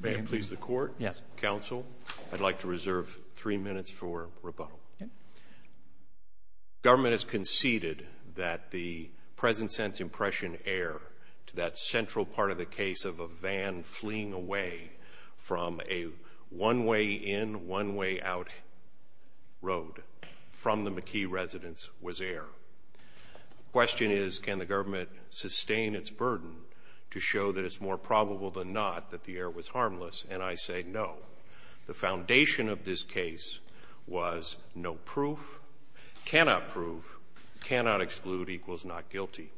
May it please the Court? Yes. Counsel, I'd like to reserve three minutes for rebuttal. Government has conceded that the present-sense impression error to that central part of the case of a van fleeing away from a one-way-in, one-way-out road from the McKee residence was error. The question is, can the government sustain its burden to show that it's more probable than not that the error was harmless? And I say no. The foundation of this case was no proof, cannot prove, cannot exclude equals not guilty.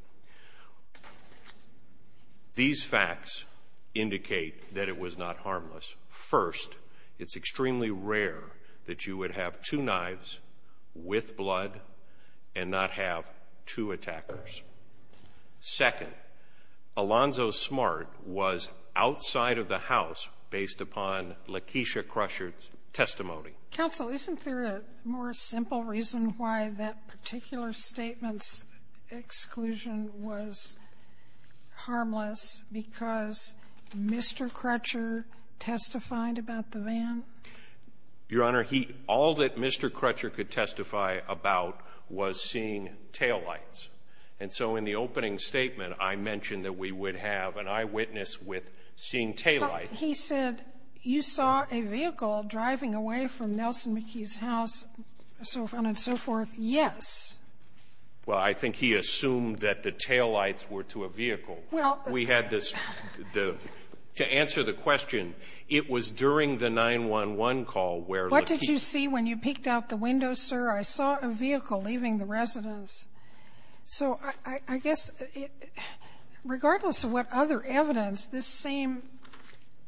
These facts indicate that it was not harmless. First, it's extremely rare that you would have two knives with blood and not have two attackers. Second, Alonzo Smart was outside of the house based upon Lakeisha Crusher's testimony. Counsel, isn't there a more simple reason why that particular statement's exclusion was harmless because Mr. Crutcher testified about the van? Your Honor, he all that Mr. Crutcher could testify about was seeing taillights. And so in the opening statement, I mentioned that we would have an eyewitness with seeing taillights. Well, he said, you saw a vehicle driving away from Nelson McKee's house, and so forth. Yes. Well, I think he assumed that the taillights were to a vehicle. Well, we had this the to answer the question, it was during the 911 call where What did you see when you peeked out the window, sir? I saw a vehicle leaving the residence. So I guess regardless of what other evidence, this same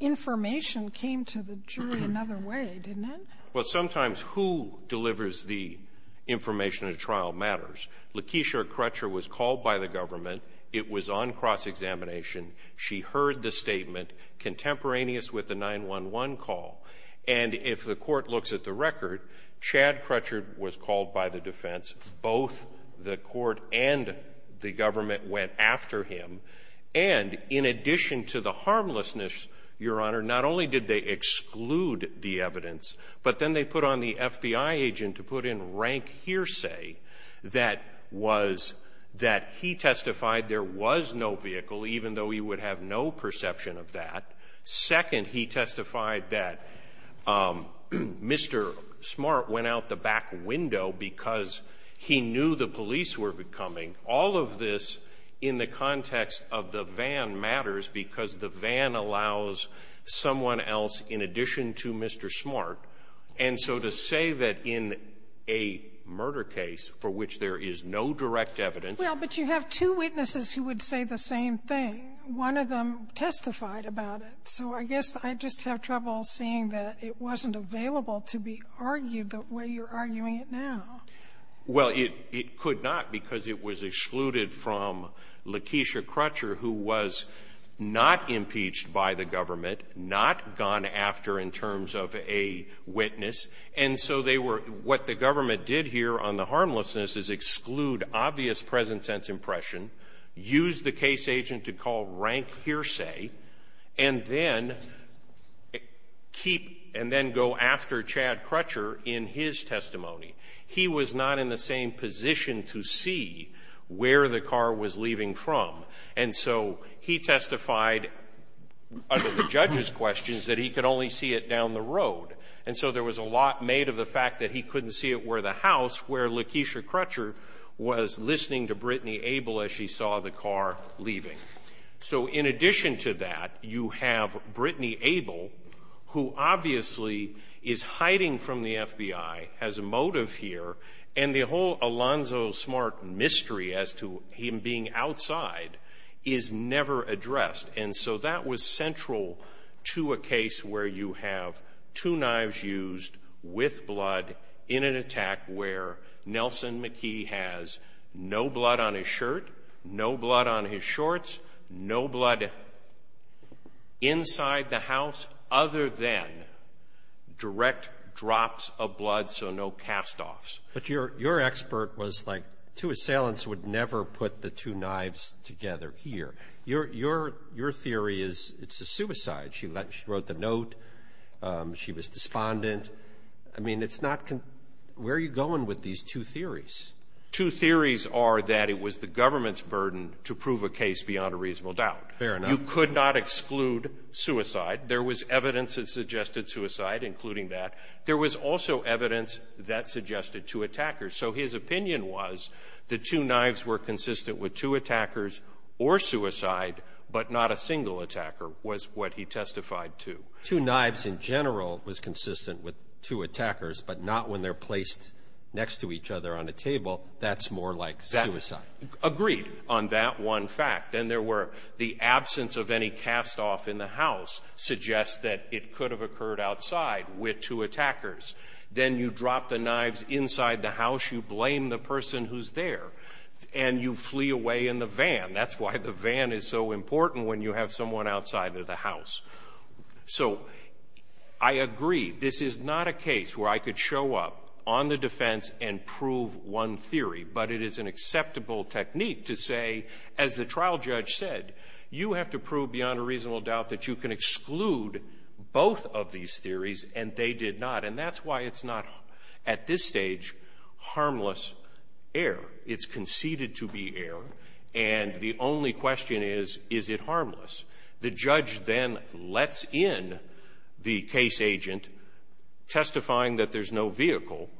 information came to the jury another way, didn't it? Well, sometimes who delivers the information in a trial matters. Lakeisha Crusher was called by the government. It was on cross-examination. She heard the statement contemporaneous with the 911 call. And if the Court looks at the record, Chad Crutcher was called by the defense. Both the Court and the government went after him. And in addition to the harmlessness, Your Honor, not only did they exclude the evidence, but then they put on the FBI agent to put in rank hearsay that was that he testified there was no vehicle, even though he would have no perception of that. Second, he testified that Mr. Smart went out the back window because he knew the police were coming. All of this in the context of the van matters because the van allows someone else in addition to Mr. Smart. And so to say that in a murder case for which there is no direct evidence Well, but you have two witnesses who would say the same thing. One of them testified about it. So I guess I just have trouble seeing that it wasn't available to be argued the way you're arguing it now. Well, it could not because it was excluded from Lakeisha Crusher, who was not impeached by the government, not gone after in terms of a witness. And so they were what the government did here on the harmlessness is exclude obvious present-sense impression, use the case agent to call rank hearsay, and then keep and then go after Chad Crutcher in his testimony. He was not in the same position to see where the car was leaving from. And so he testified under the judge's questions that he could only see it down the road. And so there was a lot made of the fact that he couldn't see it where the house, where Lakeisha Crusher was listening to Brittany Abel as she saw the car leaving. So in addition to that, you have Brittany Abel, who obviously is hiding from the FBI, has a motive here, and the whole Alonzo Smart mystery as to him being outside is never addressed. And so that was central to a case where you have two knives used with blood in an attack where Nelson McKee has no blood on his shirt, no blood on his shorts, no blood inside the house other than direct drops of blood, so no castoffs. But your expert was like two assailants would never put the two knives together here. Your theory is it's a suicide. She wrote the note. She was despondent. I mean, it's not con — where are you going with these two theories? Two theories are that it was the government's burden to prove a case beyond a reasonable doubt. Fair enough. You could not exclude suicide. There was evidence that suggested suicide, including that. There was also evidence that suggested two attackers. So his opinion was the two knives were consistent with two attackers or suicide, but not a single attacker, was what he testified to. Two knives in general was consistent with two attackers, but not when they're placed next to each other on a table. That's more like suicide. Agreed on that one fact. Then there were the absence of any castoff in the house suggests that it could have occurred outside with two attackers. Then you drop the knives inside the house. You blame the person who's there, and you flee away in the van. That's why the van is so important when you have someone outside of the house. So I agree. This is not a case where I could show up on the defense and prove one theory. But it is an acceptable technique to say, as the trial judge said, you have to prove beyond a reasonable doubt that you can exclude both of these theories, and they did not. And that's why it's not, at this stage, harmless error. It's conceded to be error. And the only question is, is it harmless? The judge then lets in the case agent, testifying that there's no vehicle.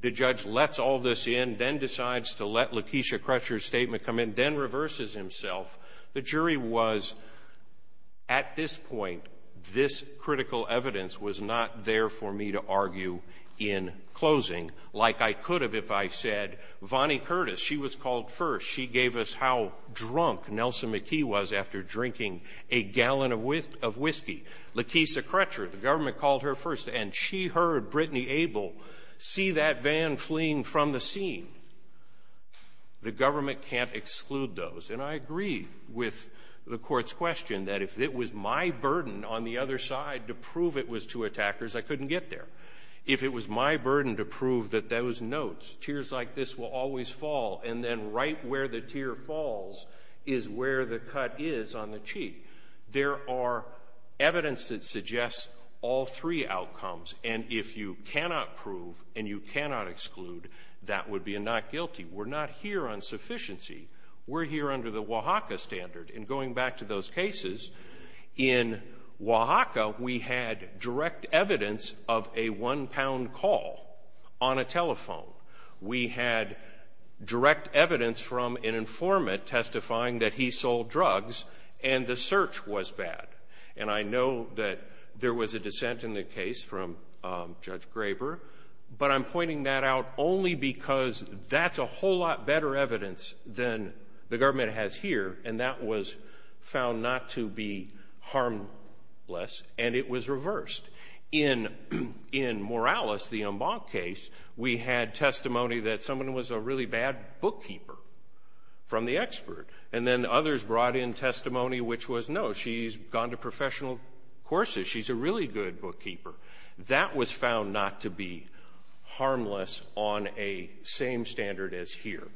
The judge lets all this in, then decides to let Lakeisha Crutcher's statement come in, then reverses himself. The jury was, at this point, this critical evidence was not there for me to argue in closing, like I could have if I said, Vonnie Curtis, she was called first. She gave us how drunk Nelson McKee was after drinking a gallon of whiskey. Lakeisha Crutcher, the government called her first. And she heard Brittany Abel see that van fleeing from the scene. The government can't exclude those. And I agree with the court's question, that if it was my burden on the other side to prove it was two attackers, I couldn't get there. If it was my burden to prove that those notes, tears like this will always fall, and then right where the tear falls is where the cut is on the cheek. There are evidence that suggests all three outcomes. And if you cannot prove and you cannot exclude, that would be a not guilty. We're not here on sufficiency. We're here under the Oaxaca standard. And going back to those cases, in Oaxaca, we had direct evidence of a one-pound call on a telephone. We had direct evidence from an informant testifying that he sold drugs, and the search was bad. And I know that there was a dissent in the case from Judge Graber, but I'm pointing that out only because that's a whole lot better evidence than the government has here. And that was found not to be harmless, and it was reversed. In Morales, the Umbach case, we had testimony that someone was a really bad bookkeeper from the expert, and then others brought in testimony which was, no, she's gone to professional courses. She's a really good bookkeeper. That was found not to be harmless on a same standard as here.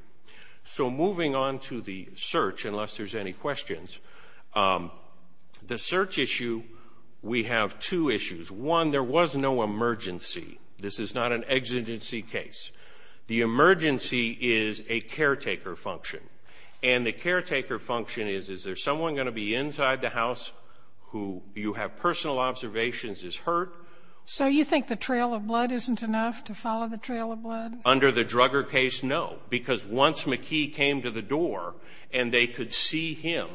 So moving on to the search, unless there's any questions, the search issue, we have two issues. One, there was no emergency. This is not an exigency case. The emergency is a caretaker function. And the caretaker function is, is there someone going to be inside the house who you have personal observations is hurt? So you think the trail of blood isn't enough to follow the trail of blood? Under the Drugger case, no. Because once McKee came to the door and they could see him,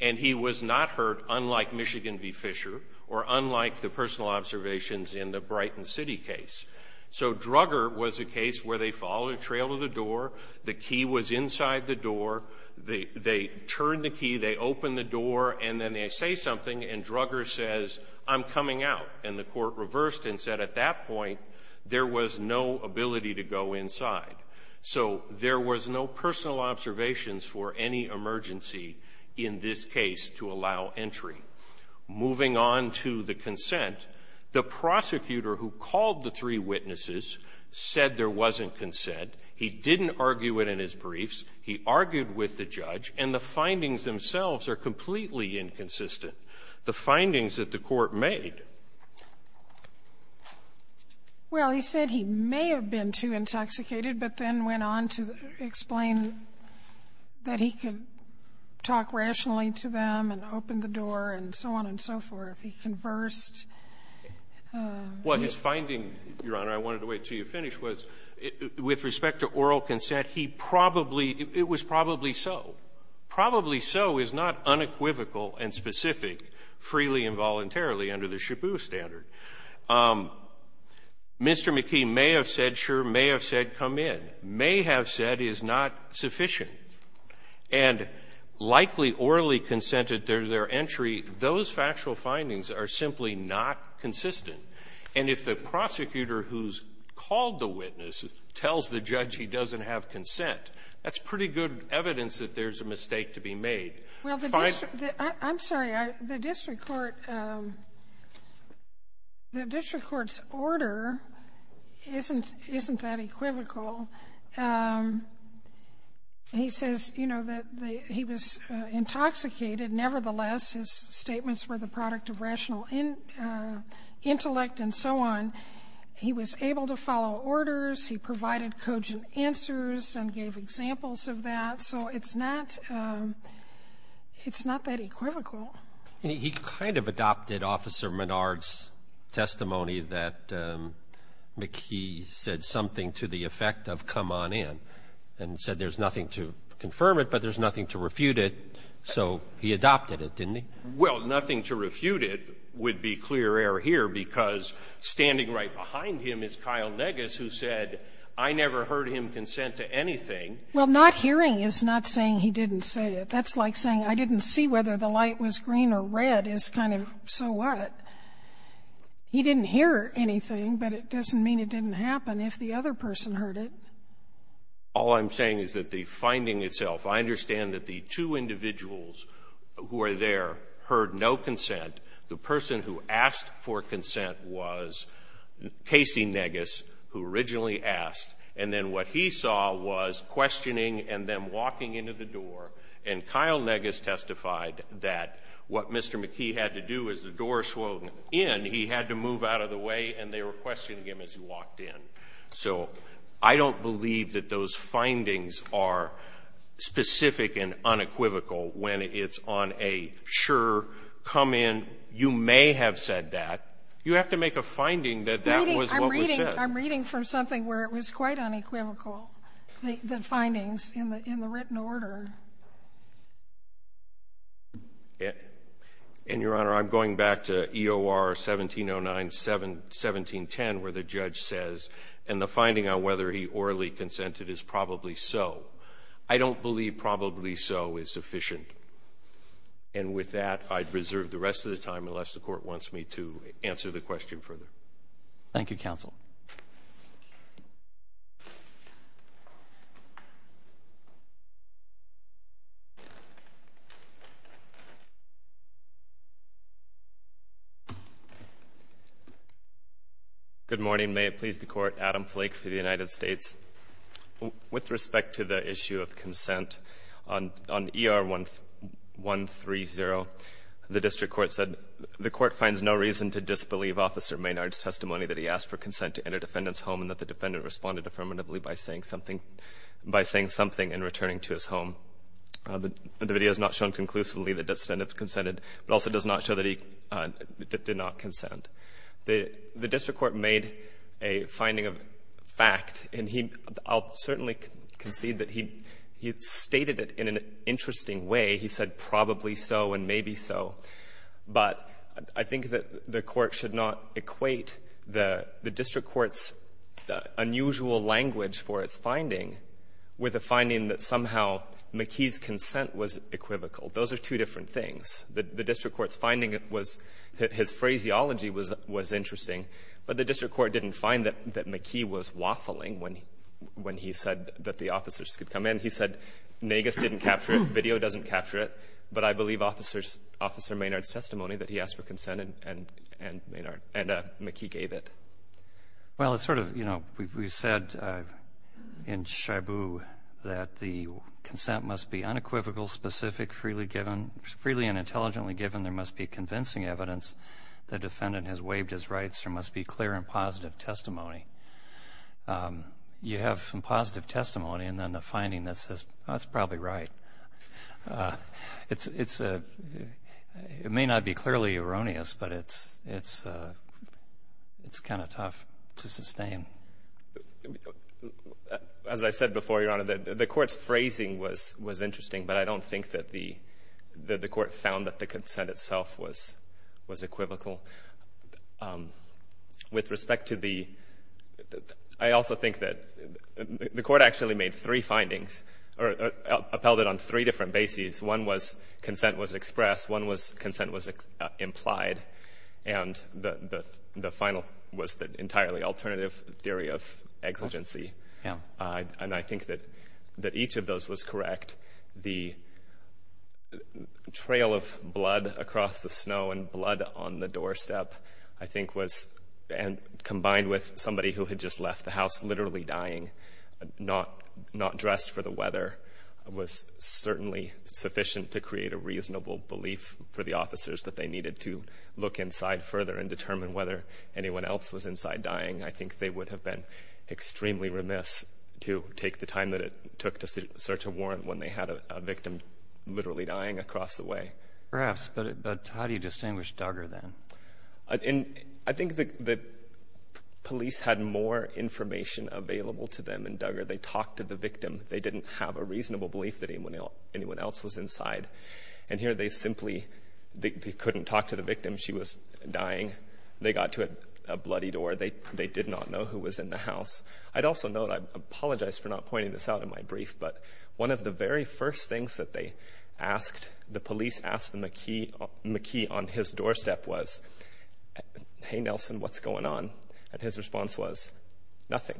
and he was not hurt unlike Michigan v. Fisher or unlike the personal observations in the Brighton City case. So Drugger was a case where they followed a trail of the door, the key was inside the door, they turned the key, they opened the door, and then they say something and Drugger says, I'm coming out. And the court reversed and said at that point, there was no ability to go inside. So there was no personal observations for any emergency in this case to allow entry. Moving on to the consent, the prosecutor who called the three witnesses said there wasn't consent. He didn't argue it in his briefs. He argued with the judge. And the findings themselves are completely inconsistent. The findings that the Court made --" Sotomayor, well, he said he may have been too intoxicated, but then went on to explain that he could talk rationally to them and open the door and so on and so forth. He conversed. Well, his finding, Your Honor, I wanted to wait until you finished, was with respect to oral consent, he probably --" it was probably so. Probably so is not unequivocal and specific freely and voluntarily under the Shabu standard. Mr. McKee may have said, sure, may have said, come in. May have said is not sufficient. And likely orally consented there to their entry. Those factual findings are simply not consistent. And if the prosecutor who's called the witness tells the judge he doesn't have consent, that's pretty good evidence that there's a mistake to be made. Well, the district --" I'm sorry. The district court --" the district court's order isn't that equivocal. He says, you know, that the --" he was intoxicated. Nevertheless, his statements were the product of rational intellect and so on. He was able to follow orders. He provided cogent answers and gave examples of that. And so it's not that equivocal. He kind of adopted Officer Menard's testimony that McKee said something to the effect of, come on in, and said there's nothing to confirm it, but there's nothing to refute it, so he adopted it, didn't he? Well, nothing to refute it would be clear error here because standing right behind him is Kyle Negus, who said, I never heard him consent to anything. Well, not hearing is not saying he didn't say it. That's like saying, I didn't see whether the light was green or red is kind of, so what? He didn't hear anything, but it doesn't mean it didn't happen if the other person heard it. All I'm saying is that the finding itself, I understand that the two individuals who are there heard no consent. The person who asked for consent was Casey Negus, who originally asked, and then what he saw was questioning and them walking into the door, and Kyle Negus testified that what Mr. McKee had to do as the door swung in, he had to move out of the way and they were questioning him as he walked in. So I don't believe that those findings are specific and unequivocal when it's on a sure, come in, you may have said that. You have to make a finding that that was what was said. I'm reading from something where it was quite unequivocal, the findings in the written order. And, Your Honor, I'm going back to EOR 1709, 1710, where the judge says, and the finding on whether he orally consented is probably so. I don't believe probably so is sufficient. And with that, I'd reserve the rest of the time, unless the Court wants me to answer the question further. Thank you, Counsel. Good morning. May it please the Court, Adam Flake for the United States. With respect to the issue of consent, on ER 130, the district court said, the court finds no reason to disbelieve Officer Maynard's testimony that he asked for consent to enter defendant's home and that the defendant responded affirmatively by saying something by saying something and returning to his home. The video is not shown conclusively that the defendant consented, but also does not show that he did not consent. The district court made a finding of fact, and he certainly conceded that he stated it in an interesting way. He said probably so and maybe so. But I think that the Court should not equate the district court's unusual language for its finding with a finding that somehow McKee's consent was equivocal. Those are two different things. The district court's finding was that his phraseology was interesting, but the district court didn't find that McKee was waffling when he said that the officers could come in. He said Nagus didn't capture it, video doesn't capture it, but I believe Officer Maynard's testimony that he asked for consent and Maynard and McKee gave it. Well, it's sort of, you know, we've said in shabu that the consent must be unequivocal, specific, freely given, freely and intelligently given. There must be convincing evidence the defendant has waived his rights. There must be clear and positive testimony. You have some positive testimony and then the finding that says, that's probably right. It's a — it may not be clearly erroneous, but it's kind of tough to sustain. As I said before, Your Honor, the Court's phrasing was interesting, but I don't think that the Court found that the consent itself was equivocal. With respect to the — I also think that the Court actually made three findings or upheld it on three different bases. One was consent was expressed, one was consent was implied, and the final was the entirely alternative theory of exigency. And I think that each of those was correct. The trail of blood across the snow and blood on the doorstep, I think, was — combined with somebody who had just left the house literally dying, not dressed for the weather, was certainly sufficient to create a reasonable belief for the officers that they needed to look inside further and determine whether anyone else was inside dying. I think they would have been extremely remiss to take the time that it took to search a house where they had a victim literally dying across the way. Perhaps. But how do you distinguish Duggar, then? I think the police had more information available to them in Duggar. They talked to the victim. They didn't have a reasonable belief that anyone else was inside. And here they simply — they couldn't talk to the victim. She was dying. They got to a bloody door. They did not know who was in the house. I'd also note — I apologize for not pointing this out in my brief, but one of the very first things that they asked — the police asked the McKee on his doorstep was, hey, Nelson, what's going on? And his response was, nothing.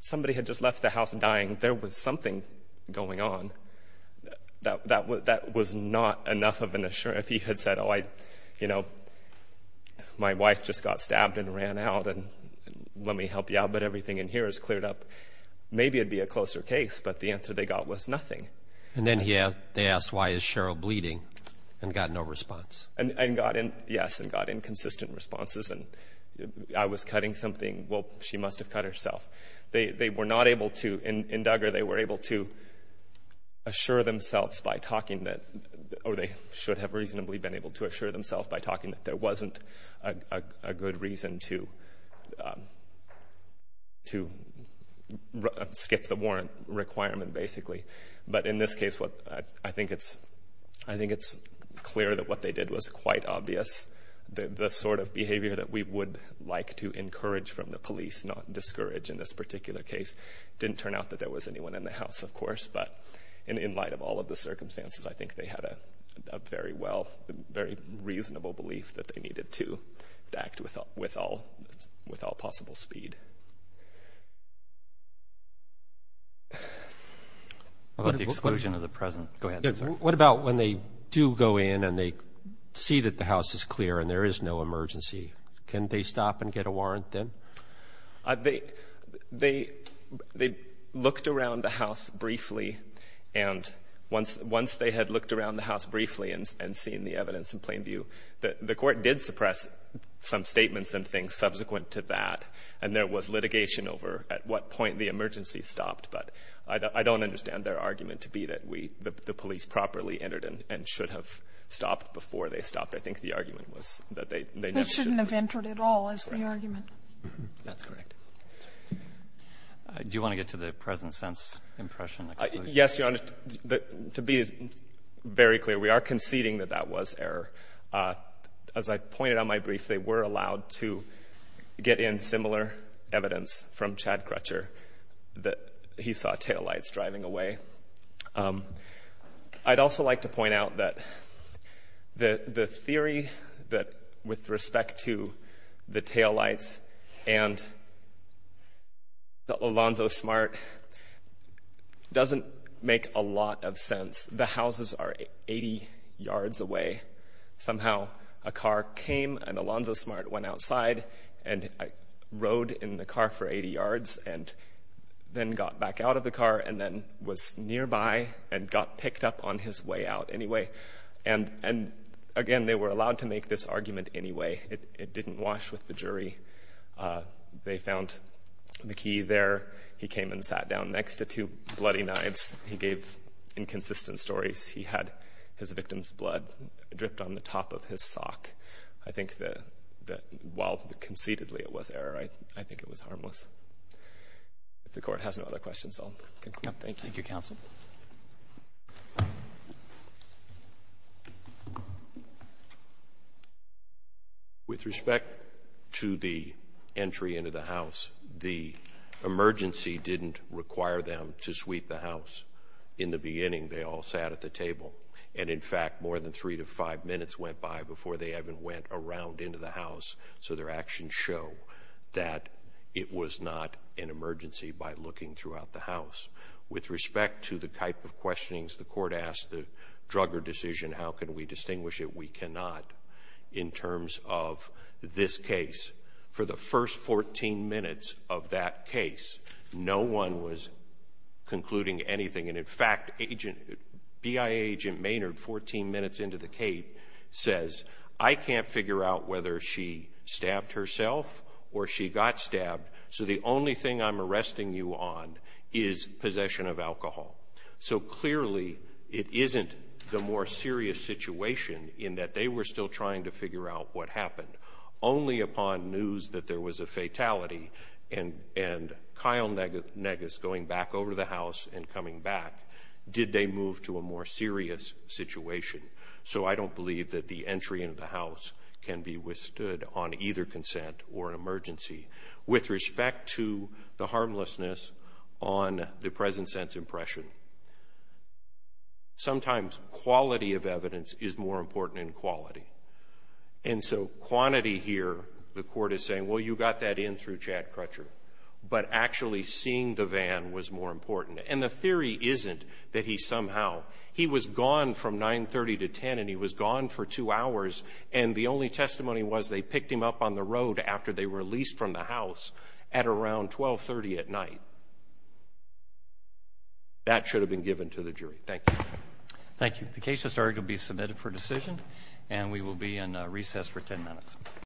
Somebody had just left the house dying. There was something going on. That was not enough of an assurance. If he had said, oh, I — you know, my wife just got stabbed and ran out, and let me help you out, but everything in here is cleared up, maybe it'd be a closer case. But the answer they got was nothing. And then they asked, why is Cheryl bleeding, and got no response. And got in — yes, and got inconsistent responses, and I was cutting something. Well, she must have cut herself. They were not able to — in Duggar, they were able to assure themselves by talking that — or they should have reasonably been able to assure themselves by talking that there wasn't a good reason to skip the warrant requirement, basically. But in this case, I think it's clear that what they did was quite obvious. The sort of behavior that we would like to encourage from the police, not discourage in this particular case, didn't turn out that there was anyone in the house, of course. But in light of all of the circumstances, I think they had a very well — very reasonable belief that they needed to act with all possible speed. What about the exclusion of the present? What about when they do go in, and they see that the house is clear, and there is no emergency? Can they stop and get a warrant then? They looked around the house briefly, and once they had looked around the house briefly and seen the evidence in plain view, the court did suppress some statements and things subsequent to that, and there was litigation over at what point the emergency stopped. But I don't understand their argument to be that we — the police properly entered and should have stopped before they stopped. I think the argument was that they never should have. Sotomayor, we shouldn't have entered at all is the argument. That's correct. Do you want to get to the present-sense impression, exclusion? Yes, Your Honor. To be very clear, we are conceding that that was error. As I pointed out in my brief, they were allowed to get in similar evidence from Chad Crutcher that he saw taillights driving away. I'd also like to point out that the theory that with respect to the taillights and Alonzo Smart doesn't make a lot of sense. The houses are 80 yards away. Somehow a car came and Alonzo Smart went outside and rode in the car for 80 yards and then got back out of the car and then was nearby and got picked up on his way out anyway. And again, they were allowed to make this argument anyway. It didn't wash with the jury. They found McKee there. He came and sat down next to two bloody knives. He gave inconsistent stories. He had his victim's blood dripped on the top of his sock. I think that while concededly it was error, I think it was harmless. If the Court has no other questions, I'll conclude. Thank you. Thank you, counsel. With respect to the entry into the house, the emergency didn't require them to sweep the house. In the beginning, they all sat at the table. And in fact, more than three to five minutes went by before they even went around into the house. So their actions show that it was not an emergency by looking throughout the house. With respect to the type of questionings the Court asked, the Drugger decision, how can we distinguish it? We cannot in terms of this case. For the first 14 minutes of that case, no one was concluding anything. And in fact, BIA Agent Maynard, 14 minutes into the case, says, I can't figure out whether she stabbed herself or she got stabbed, so the only thing I'm arresting you on is possession of alcohol. So clearly it isn't the more serious situation in that they were still trying to figure out what happened. Only upon news that there was a fatality and Kyle Negus going back over the house and coming back did they move to a more serious situation. So I don't believe that the entry into the house can be withstood on either consent or an emergency. With respect to the harmlessness on the present sense impression, sometimes quality of evidence is more important than quality. And so quantity here, the Court is saying, well, you got that in through Chad Crutcher. But actually seeing the van was more important. And the theory isn't that he somehow, he was gone from 930 to 10 and he was gone for two hours and the only testimony was they picked him up on the road after they were released from the house at around 1230 at night. That should have been given to the jury. Thank you. Thank you. The case has started to be submitted for decision and we will be in recess for 10 minutes.